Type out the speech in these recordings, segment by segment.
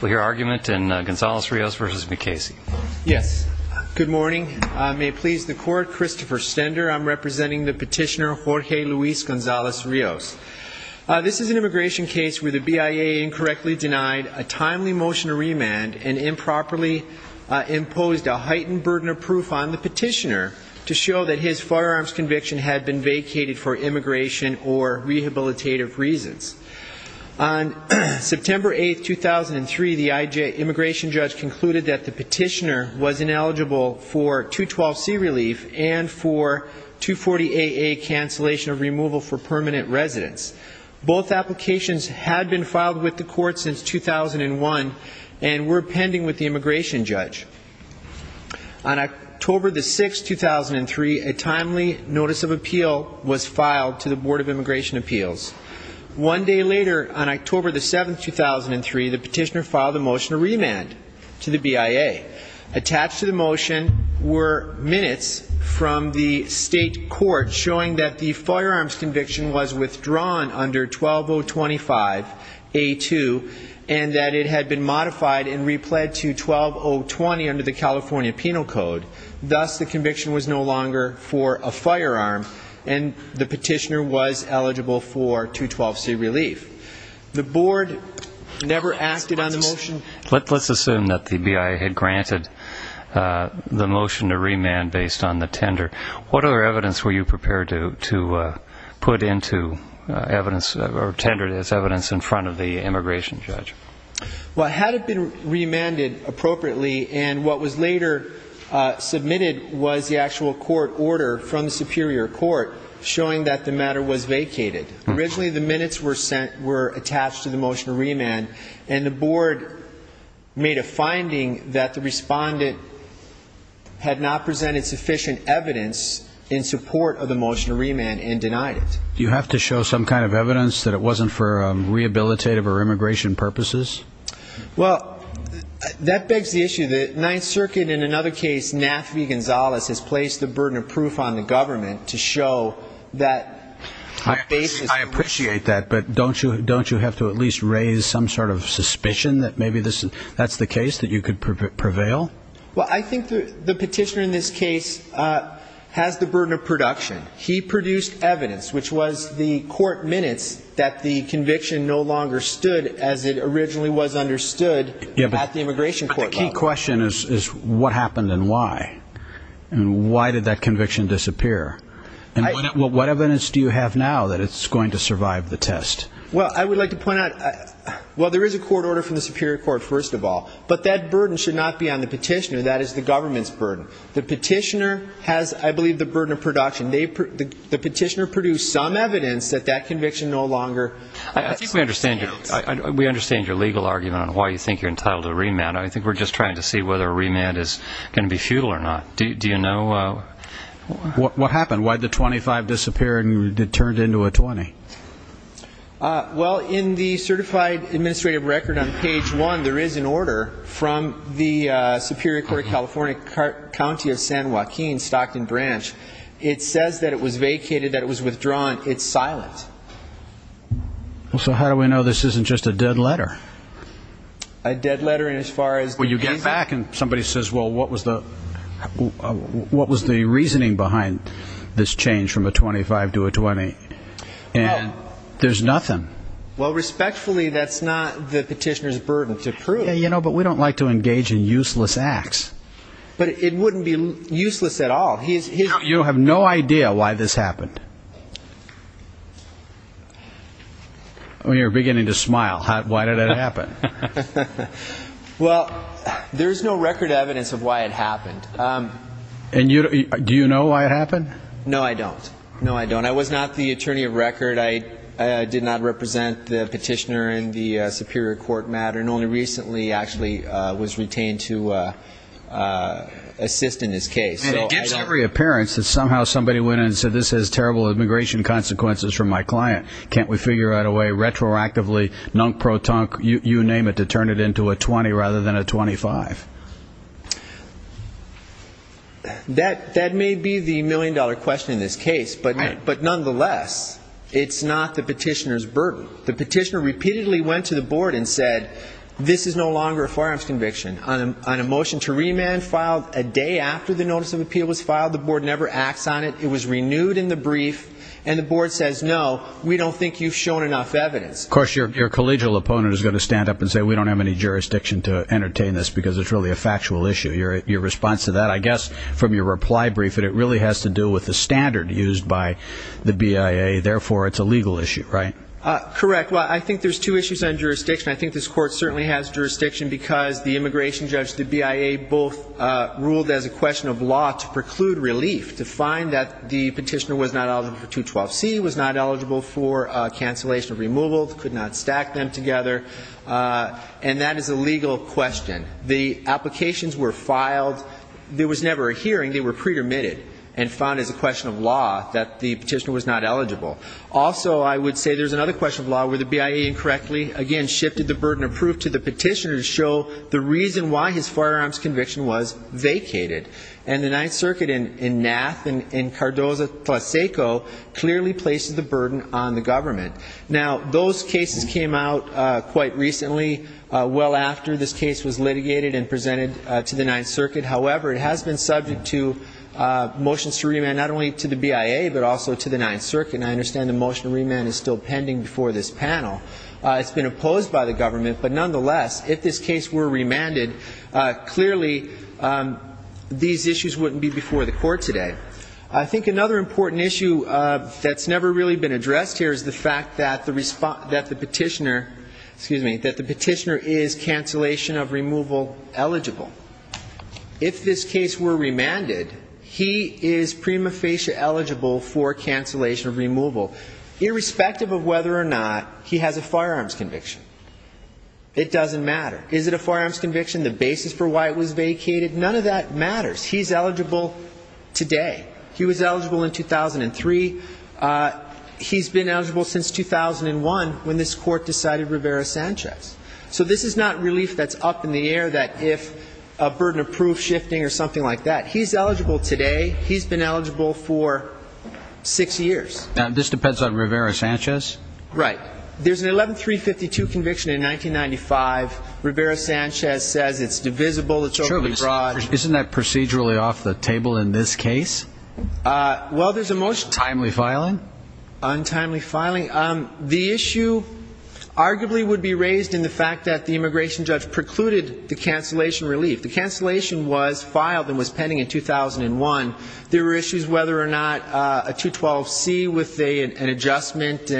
Well, your argument in Gonzales-Rios v. Mukasey. Yes. Good morning. May it please the Court, Christopher Stender. I'm representing the petitioner, Jorge Luis Gonzales-Rios. This is an immigration case where the BIA incorrectly denied a timely motion to remand and improperly imposed a heightened burden of proof on the petitioner to show that his firearms conviction had been vacated for immigration or rehabilitative reasons. On September 8, 2003, the immigration judge concluded that the petitioner was ineligible for 212C relief and for 240AA cancellation of removal for permanent residence. Both applications had been filed with the court since 2001 and were pending with the immigration judge. On October 6, 2003, a timely notice of appeal was filed to the Board of Immigration Appeals. One day later, on October 7, 2003, the petitioner filed a motion to remand to the BIA. Attached to the motion were minutes from the state court showing that the firearms conviction was withdrawn under 12025A2 and that it had been modified and replayed to 12020 under the California Penal Code. Thus, the conviction was no longer for a firearm, and the petitioner was eligible for 212C relief. The board never acted on the motion. Let's assume that the BIA had granted the motion to remand based on the tender. What other evidence were you prepared to put into evidence or tender as evidence in front of the immigration judge? Well, it had been remanded appropriately, and what was later submitted was the actual court order from the superior court showing that the matter was vacated. Originally, the minutes were attached to the motion to remand, and the board made a finding that the respondent had not presented sufficient evidence in support of the motion to remand and denied it. Do you have to show some kind of evidence that it wasn't for rehabilitative or immigration purposes? Well, that begs the issue that Ninth Circuit, in another case, NAFV Gonzales has placed the burden of proof on the government to show that basis. I appreciate that, but don't you have to at least raise some sort of suspicion that maybe that's the case, that you could prevail? Well, I think the petitioner in this case has the burden of production. He produced evidence, which was the court minutes, that the conviction no longer stood as it originally was understood at the immigration court level. But the key question is what happened and why, and why did that conviction disappear? And what evidence do you have now that it's going to survive the test? Well, I would like to point out, well, there is a court order from the superior court, first of all, but that burden should not be on the petitioner. That is the government's burden. The petitioner has, I believe, the burden of production. The petitioner produced some evidence that that conviction no longer stands. I think we understand your legal argument on why you think you're entitled to a remand. I think we're just trying to see whether a remand is going to be futile or not. Do you know? What happened? Why did the 25 disappear and it turned into a 20? Well, in the certified administrative record on page one, there is an order from the Superior Court of California, County of San Joaquin, Stockton Branch. It says that it was vacated, that it was withdrawn. It's silent. So how do we know this isn't just a dead letter? A dead letter in as far as the reason? Well, you look back and somebody says, well, what was the reasoning behind this change from a 25 to a 20? And there's nothing. Well, respectfully, that's not the petitioner's burden to prove. Yeah, you know, but we don't like to engage in useless acts. But it wouldn't be useless at all. You have no idea why this happened. You're beginning to smile. Why did it happen? Well, there's no record evidence of why it happened. And do you know why it happened? No, I don't. No, I don't. I was not the attorney of record. I did not represent the petitioner in the Superior Court matter and only recently actually was retained to assist in this case. And it gives every appearance that somehow somebody went in and said, this has terrible immigration consequences for my client. Can't we figure out a way retroactively, nunk-pro-tunk, you name it, to turn it into a 20 rather than a 25? That may be the million-dollar question in this case. But nonetheless, it's not the petitioner's burden. The petitioner repeatedly went to the board and said, this is no longer a firearms conviction. On a motion to remand filed a day after the notice of appeal was filed, the board never acts on it. It was renewed in the brief. And the board says, no, we don't think you've shown enough evidence. Of course, your collegial opponent is going to stand up and say, we don't have any jurisdiction to entertain this because it's really a factual issue. Your response to that, I guess from your reply brief, that it really has to do with the standard used by the BIA, therefore it's a legal issue, right? Correct. Well, I think there's two issues on jurisdiction. I think this court certainly has jurisdiction because the immigration judge, the BIA, both ruled as a question of law to preclude relief, to find that the petitioner was not eligible for 212C, was not eligible for cancellation of removal, could not stack them together. And that is a legal question. The applications were filed. There was never a hearing. They were pre-permitted and found as a question of law that the petitioner was not eligible. Also, I would say there's another question of law where the BIA incorrectly, again, And the Ninth Circuit in Nath and in Cardozo-Tlaseco clearly places the burden on the government. Now, those cases came out quite recently, well after this case was litigated and presented to the Ninth Circuit. However, it has been subject to motions to remand not only to the BIA, but also to the Ninth Circuit, and I understand the motion to remand is still pending before this panel. It's been opposed by the government, but nonetheless, if this case were remanded, clearly these issues wouldn't be before the court today. I think another important issue that's never really been addressed here is the fact that the petitioner, excuse me, that the petitioner is cancellation of removal eligible. If this case were remanded, he is prima facie eligible for cancellation of removal, irrespective of whether or not he has a firearms conviction. It doesn't matter. Is it a firearms conviction? The basis for why it was vacated? None of that matters. He's eligible today. He was eligible in 2003. He's been eligible since 2001 when this court decided Rivera-Sanchez. So this is not relief that's up in the air that if a burden of proof shifting or something like that. He's eligible today. He's been eligible for six years. And this depends on Rivera-Sanchez? Right. There's an 11-352 conviction in 1995. Rivera-Sanchez says it's divisible, it's overly broad. Isn't that procedurally off the table in this case? Well, there's a motion. Timely filing? Untimely filing. The issue arguably would be raised in the fact that the immigration judge precluded the cancellation relief. The cancellation was filed and was pending in 2001. There were issues whether or not a 212C with an adjustment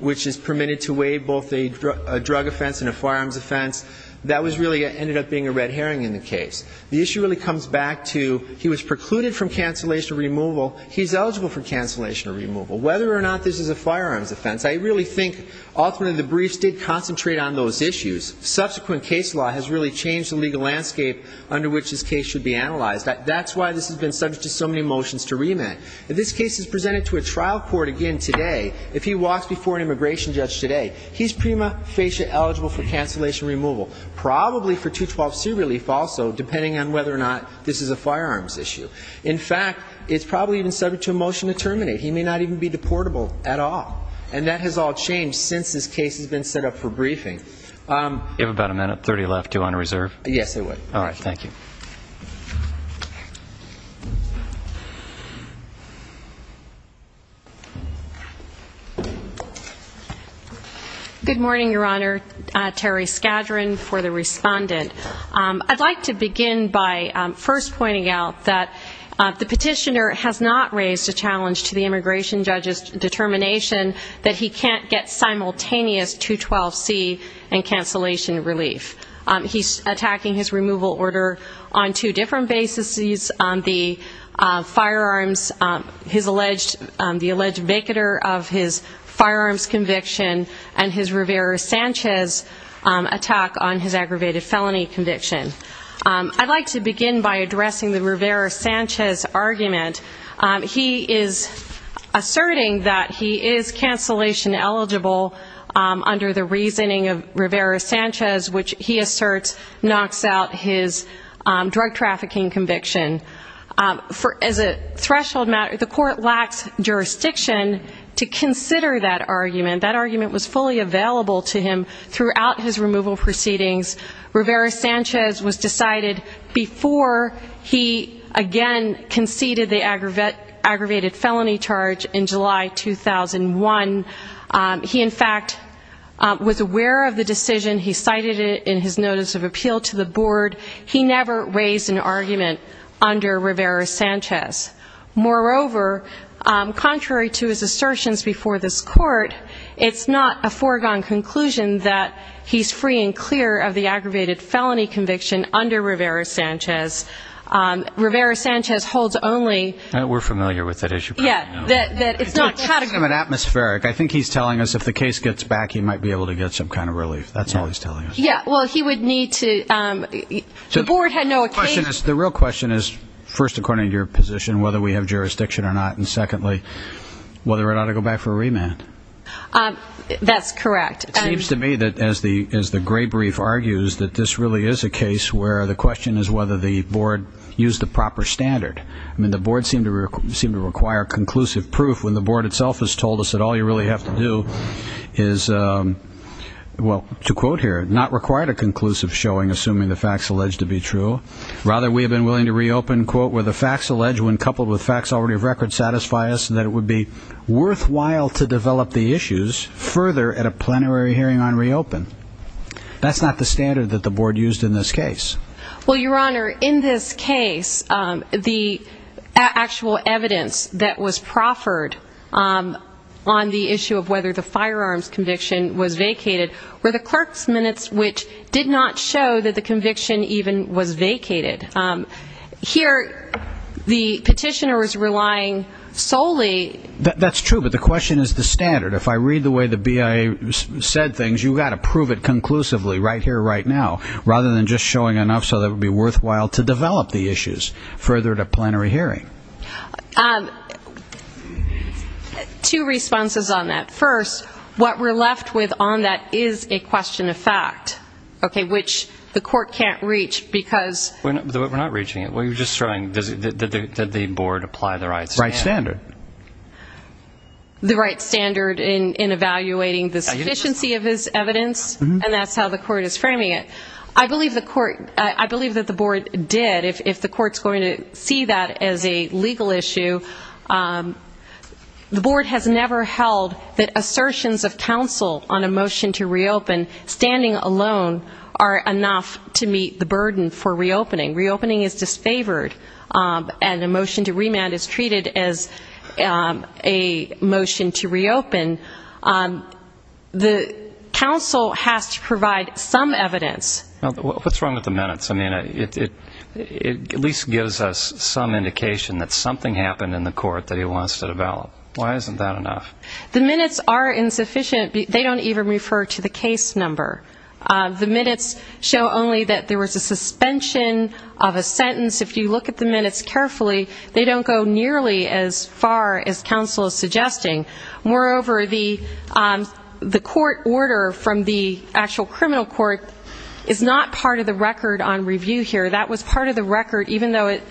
which is permitted to weigh both a drug offense and a firearms offense. That really ended up being a red herring in the case. The issue really comes back to he was precluded from cancellation removal. He's eligible for cancellation removal. Whether or not this is a firearms offense, I really think ultimately the briefs did concentrate on those issues. Subsequent case law has really changed the legal landscape under which this case should be analyzed. That's why this has been subject to so many motions to remand. If this case is presented to a trial court again today, if he walks before an immigration judge today, he's prima facie eligible for cancellation removal. Probably for 212C relief also, depending on whether or not this is a firearms issue. In fact, it's probably even subject to a motion to terminate. He may not even be deportable at all. And that has all changed since this case has been set up for briefing. You have about a minute, 30 left. Do you want to reserve? Yes, I would. All right. Thank you. Thank you. Good morning, Your Honor. Terry Skadron for the respondent. I'd like to begin by first pointing out that the petitioner has not raised a challenge to the immigration judge's determination that he can't get simultaneous 212C and cancellation relief. He's attacking his removal order on two different bases. The firearms, his alleged, the alleged vacater of his firearms conviction and his Rivera-Sanchez attack on his aggravated felony conviction. I'd like to begin by addressing the Rivera-Sanchez argument. He is asserting that he is cancellation eligible under the reasoning of Rivera-Sanchez, which he asserts knocks out his drug trafficking conviction. As a threshold matter, the court lacks jurisdiction to consider that argument. That argument was fully available to him throughout his removal proceedings. Rivera-Sanchez was decided before he again conceded the aggravated felony charge in July 2001. He, in fact, was aware of the decision. He cited it in his notice of appeal to the board. He never raised an argument under Rivera-Sanchez. Moreover, contrary to his assertions before this court, it's not a foregone conclusion that he's free and clear of the aggravated felony conviction under Rivera-Sanchez. Rivera-Sanchez holds only... We're familiar with it, as you probably know. It's not categorical. I think he's telling us if the case gets back, he might be able to get some kind of relief. That's all he's telling us. Yeah, well, he would need to... The real question is, first, according to your position, whether we have jurisdiction or not, and secondly, whether or not I go back for a remand. That's correct. It seems to me that, as the gray brief argues, that this really is a case where the question is whether the board used the proper standard. I mean, the board seemed to require conclusive proof when the board itself has told us that all you really have to do is, well, to quote here, not require a conclusive showing, assuming the facts alleged to be true. Rather, we have been willing to reopen, quote, where the facts alleged when coupled with facts already of record satisfy us and that it would be worthwhile to develop the issues further at a plenary hearing on reopen. That's not the standard that the board used in this case. Well, Your Honor, in this case, the actual evidence that was proffered on the issue of whether the firearms conviction was vacated were the clerk's minutes, which did not show that the conviction even was vacated. Here, the petitioner is relying solely... That's true, but the question is the standard. If I read the way the BIA said things, you've got to prove it conclusively, right here, right now, rather than just showing enough so that it would be worthwhile to develop the issues further at a plenary hearing. Two responses on that. First, what we're left with on that is a question of fact, which the court can't reach because... We're not reaching it. We're just showing that the board applied the right standard. The right standard. The right standard in evaluating the sufficiency of his evidence, and that's how the court is framing it. I believe that the board did. If the court's going to see that as a legal issue, the board has never held that assertions of counsel on a motion to reopen, standing alone, are enough to meet the burden for reopening. Reopening is disfavored, and a motion to remand is treated as a motion to reopen. The counsel has to provide some evidence. What's wrong with the minutes? It at least gives us some indication that something happened in the court that he wants to develop. Why isn't that enough? The minutes are insufficient. They don't even refer to the case number. The minutes show only that there was a suspension of a sentence. If you look at the minutes carefully, they don't go nearly as far as counsel is suggesting. Moreover, the court order from the actual criminal court is not part of the record on review here. That was part of the record, even though it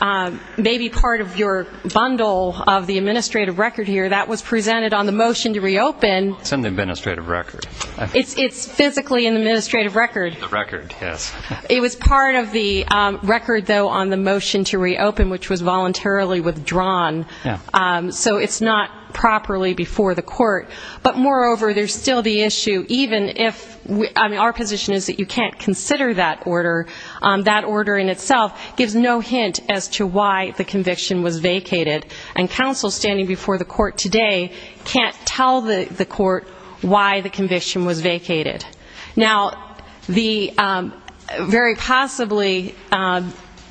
may be part of your bundle of the administrative record here. That was presented on the motion to reopen. It's in the administrative record. It's physically in the administrative record. The record, yes. It was part of the record, though, on the motion to reopen, which was voluntarily withdrawn. Yeah. So it's not properly before the court. But moreover, there's still the issue, even if our position is that you can't consider that order, that order in itself gives no hint as to why the conviction was vacated. And counsel standing before the court today can't tell the court why the conviction was vacated. Now, very possibly, this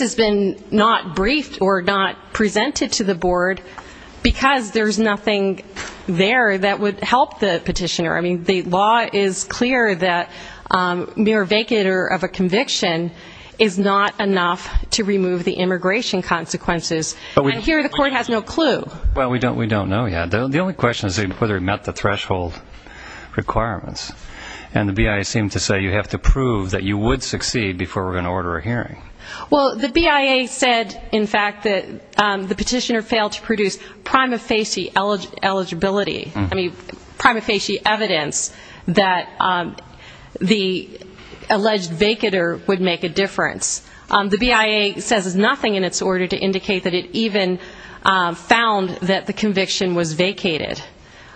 has been not briefed or not presented to the board because there's nothing there that would help the petitioner. I mean, the law is clear that mere vacater of a conviction is not enough to remove the immigration consequences. And here, the court has no clue. Well, we don't know yet. The only question is whether it met the threshold requirements. And the BIA seemed to say you had to do it. You have to prove that you would succeed before we're going to order a hearing. Well, the BIA said, in fact, that the petitioner failed to produce prima facie eligibility. I mean, prima facie evidence that the alleged vacater would make a difference. The BIA says there's nothing in its order to indicate that it even found that the conviction was vacated.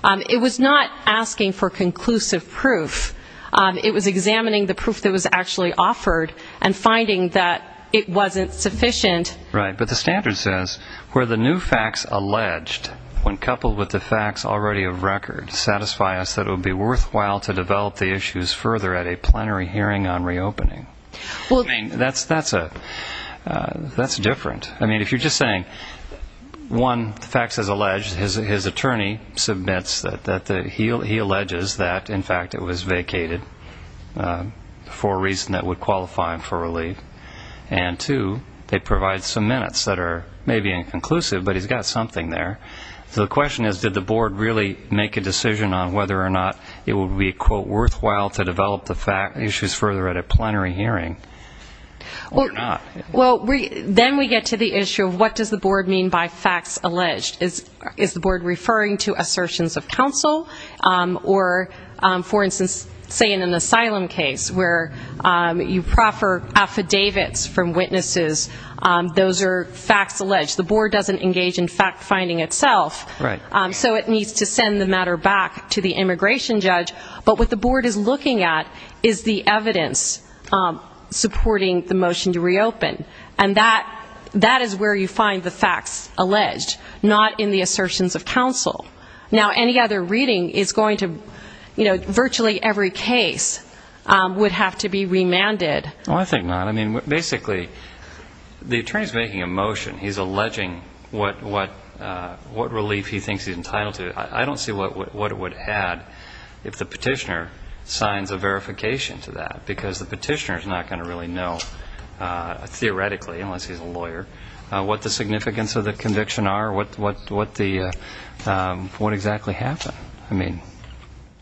It was not asking for conclusive proof. It was examining the proof that was actually offered and finding that it wasn't sufficient. Right. But the standard says, where the new facts alleged, when coupled with the facts already of record, satisfy us that it would be worthwhile to develop the issues further at a plenary hearing on reopening. I mean, that's different. I mean, if you're just saying, one, the facts as alleged, his attorney submits that he alleges that, in fact, it was vacated for a reason that would qualify him for relief. And, two, they provide some minutes that are maybe inconclusive, but he's got something there. So the question is, did the board really make a decision on whether or not it would be, quote, worthwhile to develop the issues further at a plenary hearing or not? Well, then we get to the issue of what does the board mean by facts alleged. Is the board referring to assertions of counsel or, for instance, say in an asylum case where you proffer affidavits from witnesses, those are facts alleged. The board doesn't engage in fact-finding itself. So it needs to send the matter back to the immigration judge. But what the board is looking at is the evidence supporting the motion to reopen. And that is where you find the facts alleged, not in the assertions of counsel. Now, any other reading is going to, you know, virtually every case would have to be remanded. Well, I think not. I mean, basically, the attorney's making a motion. He's alleging what relief he thinks he's entitled to. I don't see what it would add if the petitioner signs a verification to that, because the petitioner's not going to really know, theoretically, unless he's a lawyer, what the significance of the conviction are, what exactly happened. I mean...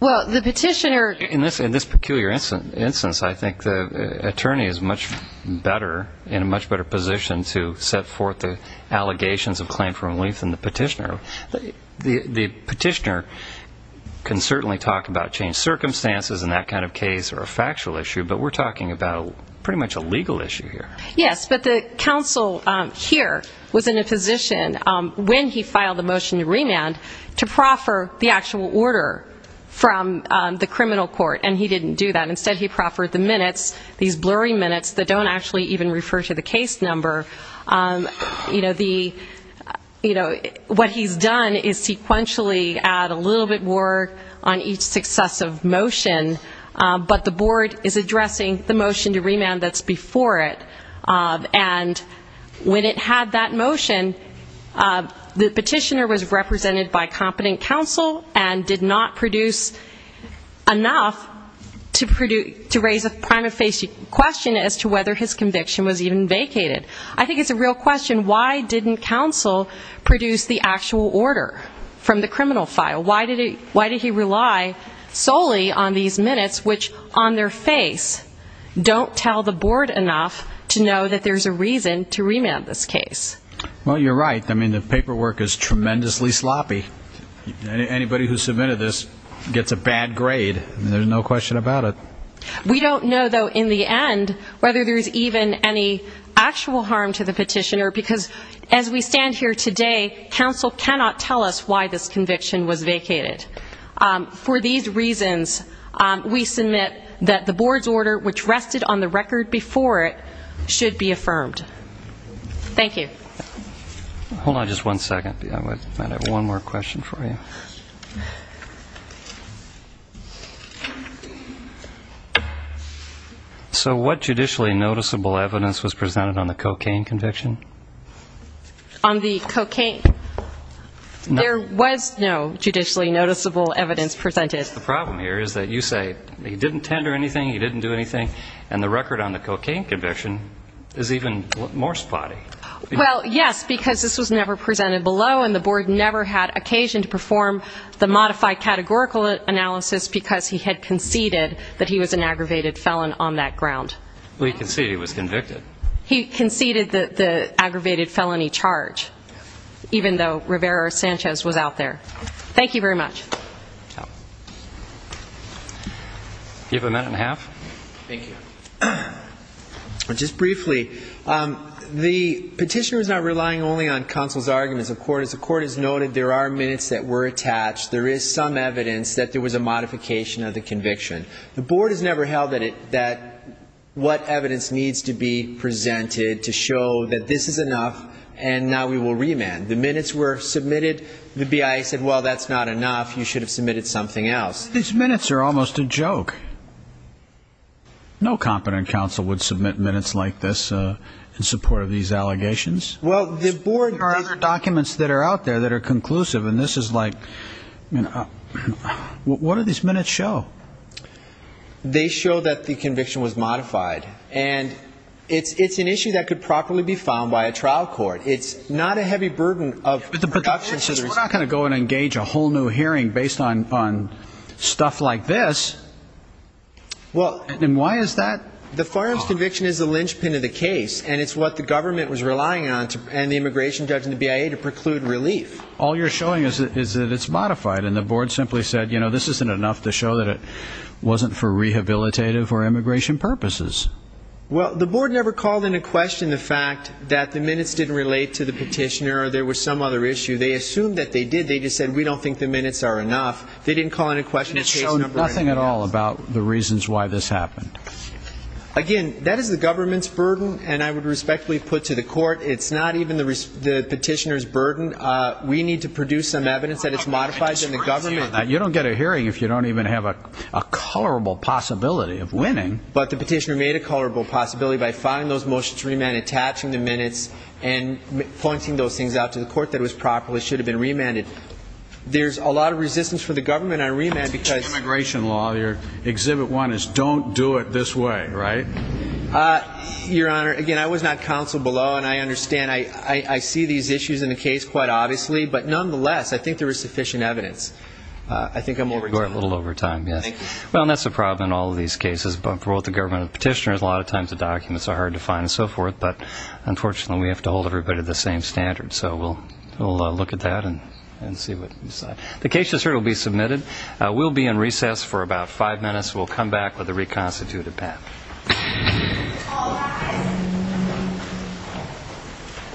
Well, the petitioner... In this peculiar instance, I think the attorney is much better, in a much better position to set forth the allegations of claim for relief than the petitioner. The petitioner can certainly talk about changed circumstances in that kind of case or a factual issue, but we're talking about pretty much a legal issue here. Yes, but the counsel here was in a position when he filed the motion to remand to proffer the actual order from the criminal court, and he didn't do that. Instead, he proffered the minutes, these blurry minutes that don't actually even refer to the case number. You know, the... You know, what he's done is sequentially add a little bit more on each successive motion, that's before it. And when it had that motion, the petitioner was represented by competent counsel and did not produce enough to raise a prime of face question as to whether his conviction was even vacated. I think it's a real question, why didn't counsel produce the actual order from the criminal file? Why did he rely solely on these minutes, which on their face don't tell the board enough to know that there's a reason to remand this case? Well, you're right. I mean, the paperwork is tremendously sloppy. Anybody who submitted this gets a bad grade. There's no question about it. We don't know, though, in the end, whether there's even any actual harm to the petitioner, because as we stand here today, counsel cannot tell us why this conviction was vacated. For these reasons, we submit that the board's order, which rested on the record before it, should be affirmed. Thank you. Hold on just one second. I have one more question for you. So what judicially noticeable evidence was presented on the cocaine conviction? On the cocaine? No. There was no judicially noticeable evidence presented. The problem here is that you say he didn't tender anything, he didn't do anything, and the record on the cocaine conviction is even more spotty. Yes, because this was never presented below, and the board never had occasion to perform the modified categorical analysis because he had conceded that he was an aggravated felon on that ground. Well, he conceded he was convicted. He conceded the aggravated felony charge, even though Rivera-Sanchez was out there. Thank you very much. You have a minute and a half. Thank you. Just briefly, the petitioner is not relying only on counsel's arguments. As the court has noted, there are minutes that were attached. There is some evidence that there was a modification of the conviction. The board has never held that what evidence needs to be presented to show that this is enough, and now we will remand. The minutes were submitted. The BIA said, well, that's not enough. You should have submitted something else. These minutes are almost a joke. No competent counsel would submit minutes like this in support of these allegations. Well, the board... There are other documents that are out there that are conclusive, and this is like... What do these minutes show? They show that the conviction was modified, and it's an issue that could properly be found by a trial court. It's not a heavy burden of... But the point is, we're not going to engage a whole new hearing based on stuff like this. Well... And why is that? The firearms conviction is the linchpin of the case, and it's what the government was relying on and the immigration judge and the BIA to preclude relief. All you're showing is that it's modified, and the board simply said, you know, this isn't enough to show that it wasn't for rehabilitative or immigration purposes. Well, the board never called into question the fact that the minutes didn't relate to the petitioner or there was some other issue. They assumed that they did. They just said, we don't think the minutes are enough. And that's all about the reasons why this happened. Again, that is the government's burden, and I would respectfully put to the court, it's not even the petitioner's burden. We need to produce some evidence that it's modified, and the government... I disagree with you on that. You don't get a hearing if you don't even have a colorable possibility of winning. But the petitioner made a colorable possibility by finding those motions remanded, attaching the minutes, and pointing those things out to the court that it was properly, should have been remanded. Exhibit one is, don't do it this way. Right? Your Honor, again, I was not counseled below, and I understand. I see these issues in the case quite obviously, but nonetheless, I think there is sufficient evidence. I think I'm over time. A little over time, yes. Well, and that's the problem in all of these cases. For both the government and the petitioner, a lot of times the documents are hard to find and so forth, but unfortunately, we have to hold everybody to the same standard. So we'll look at that and see what we decide. The case just heard will be submitted. In about five minutes, we'll come back with a reconstituted path.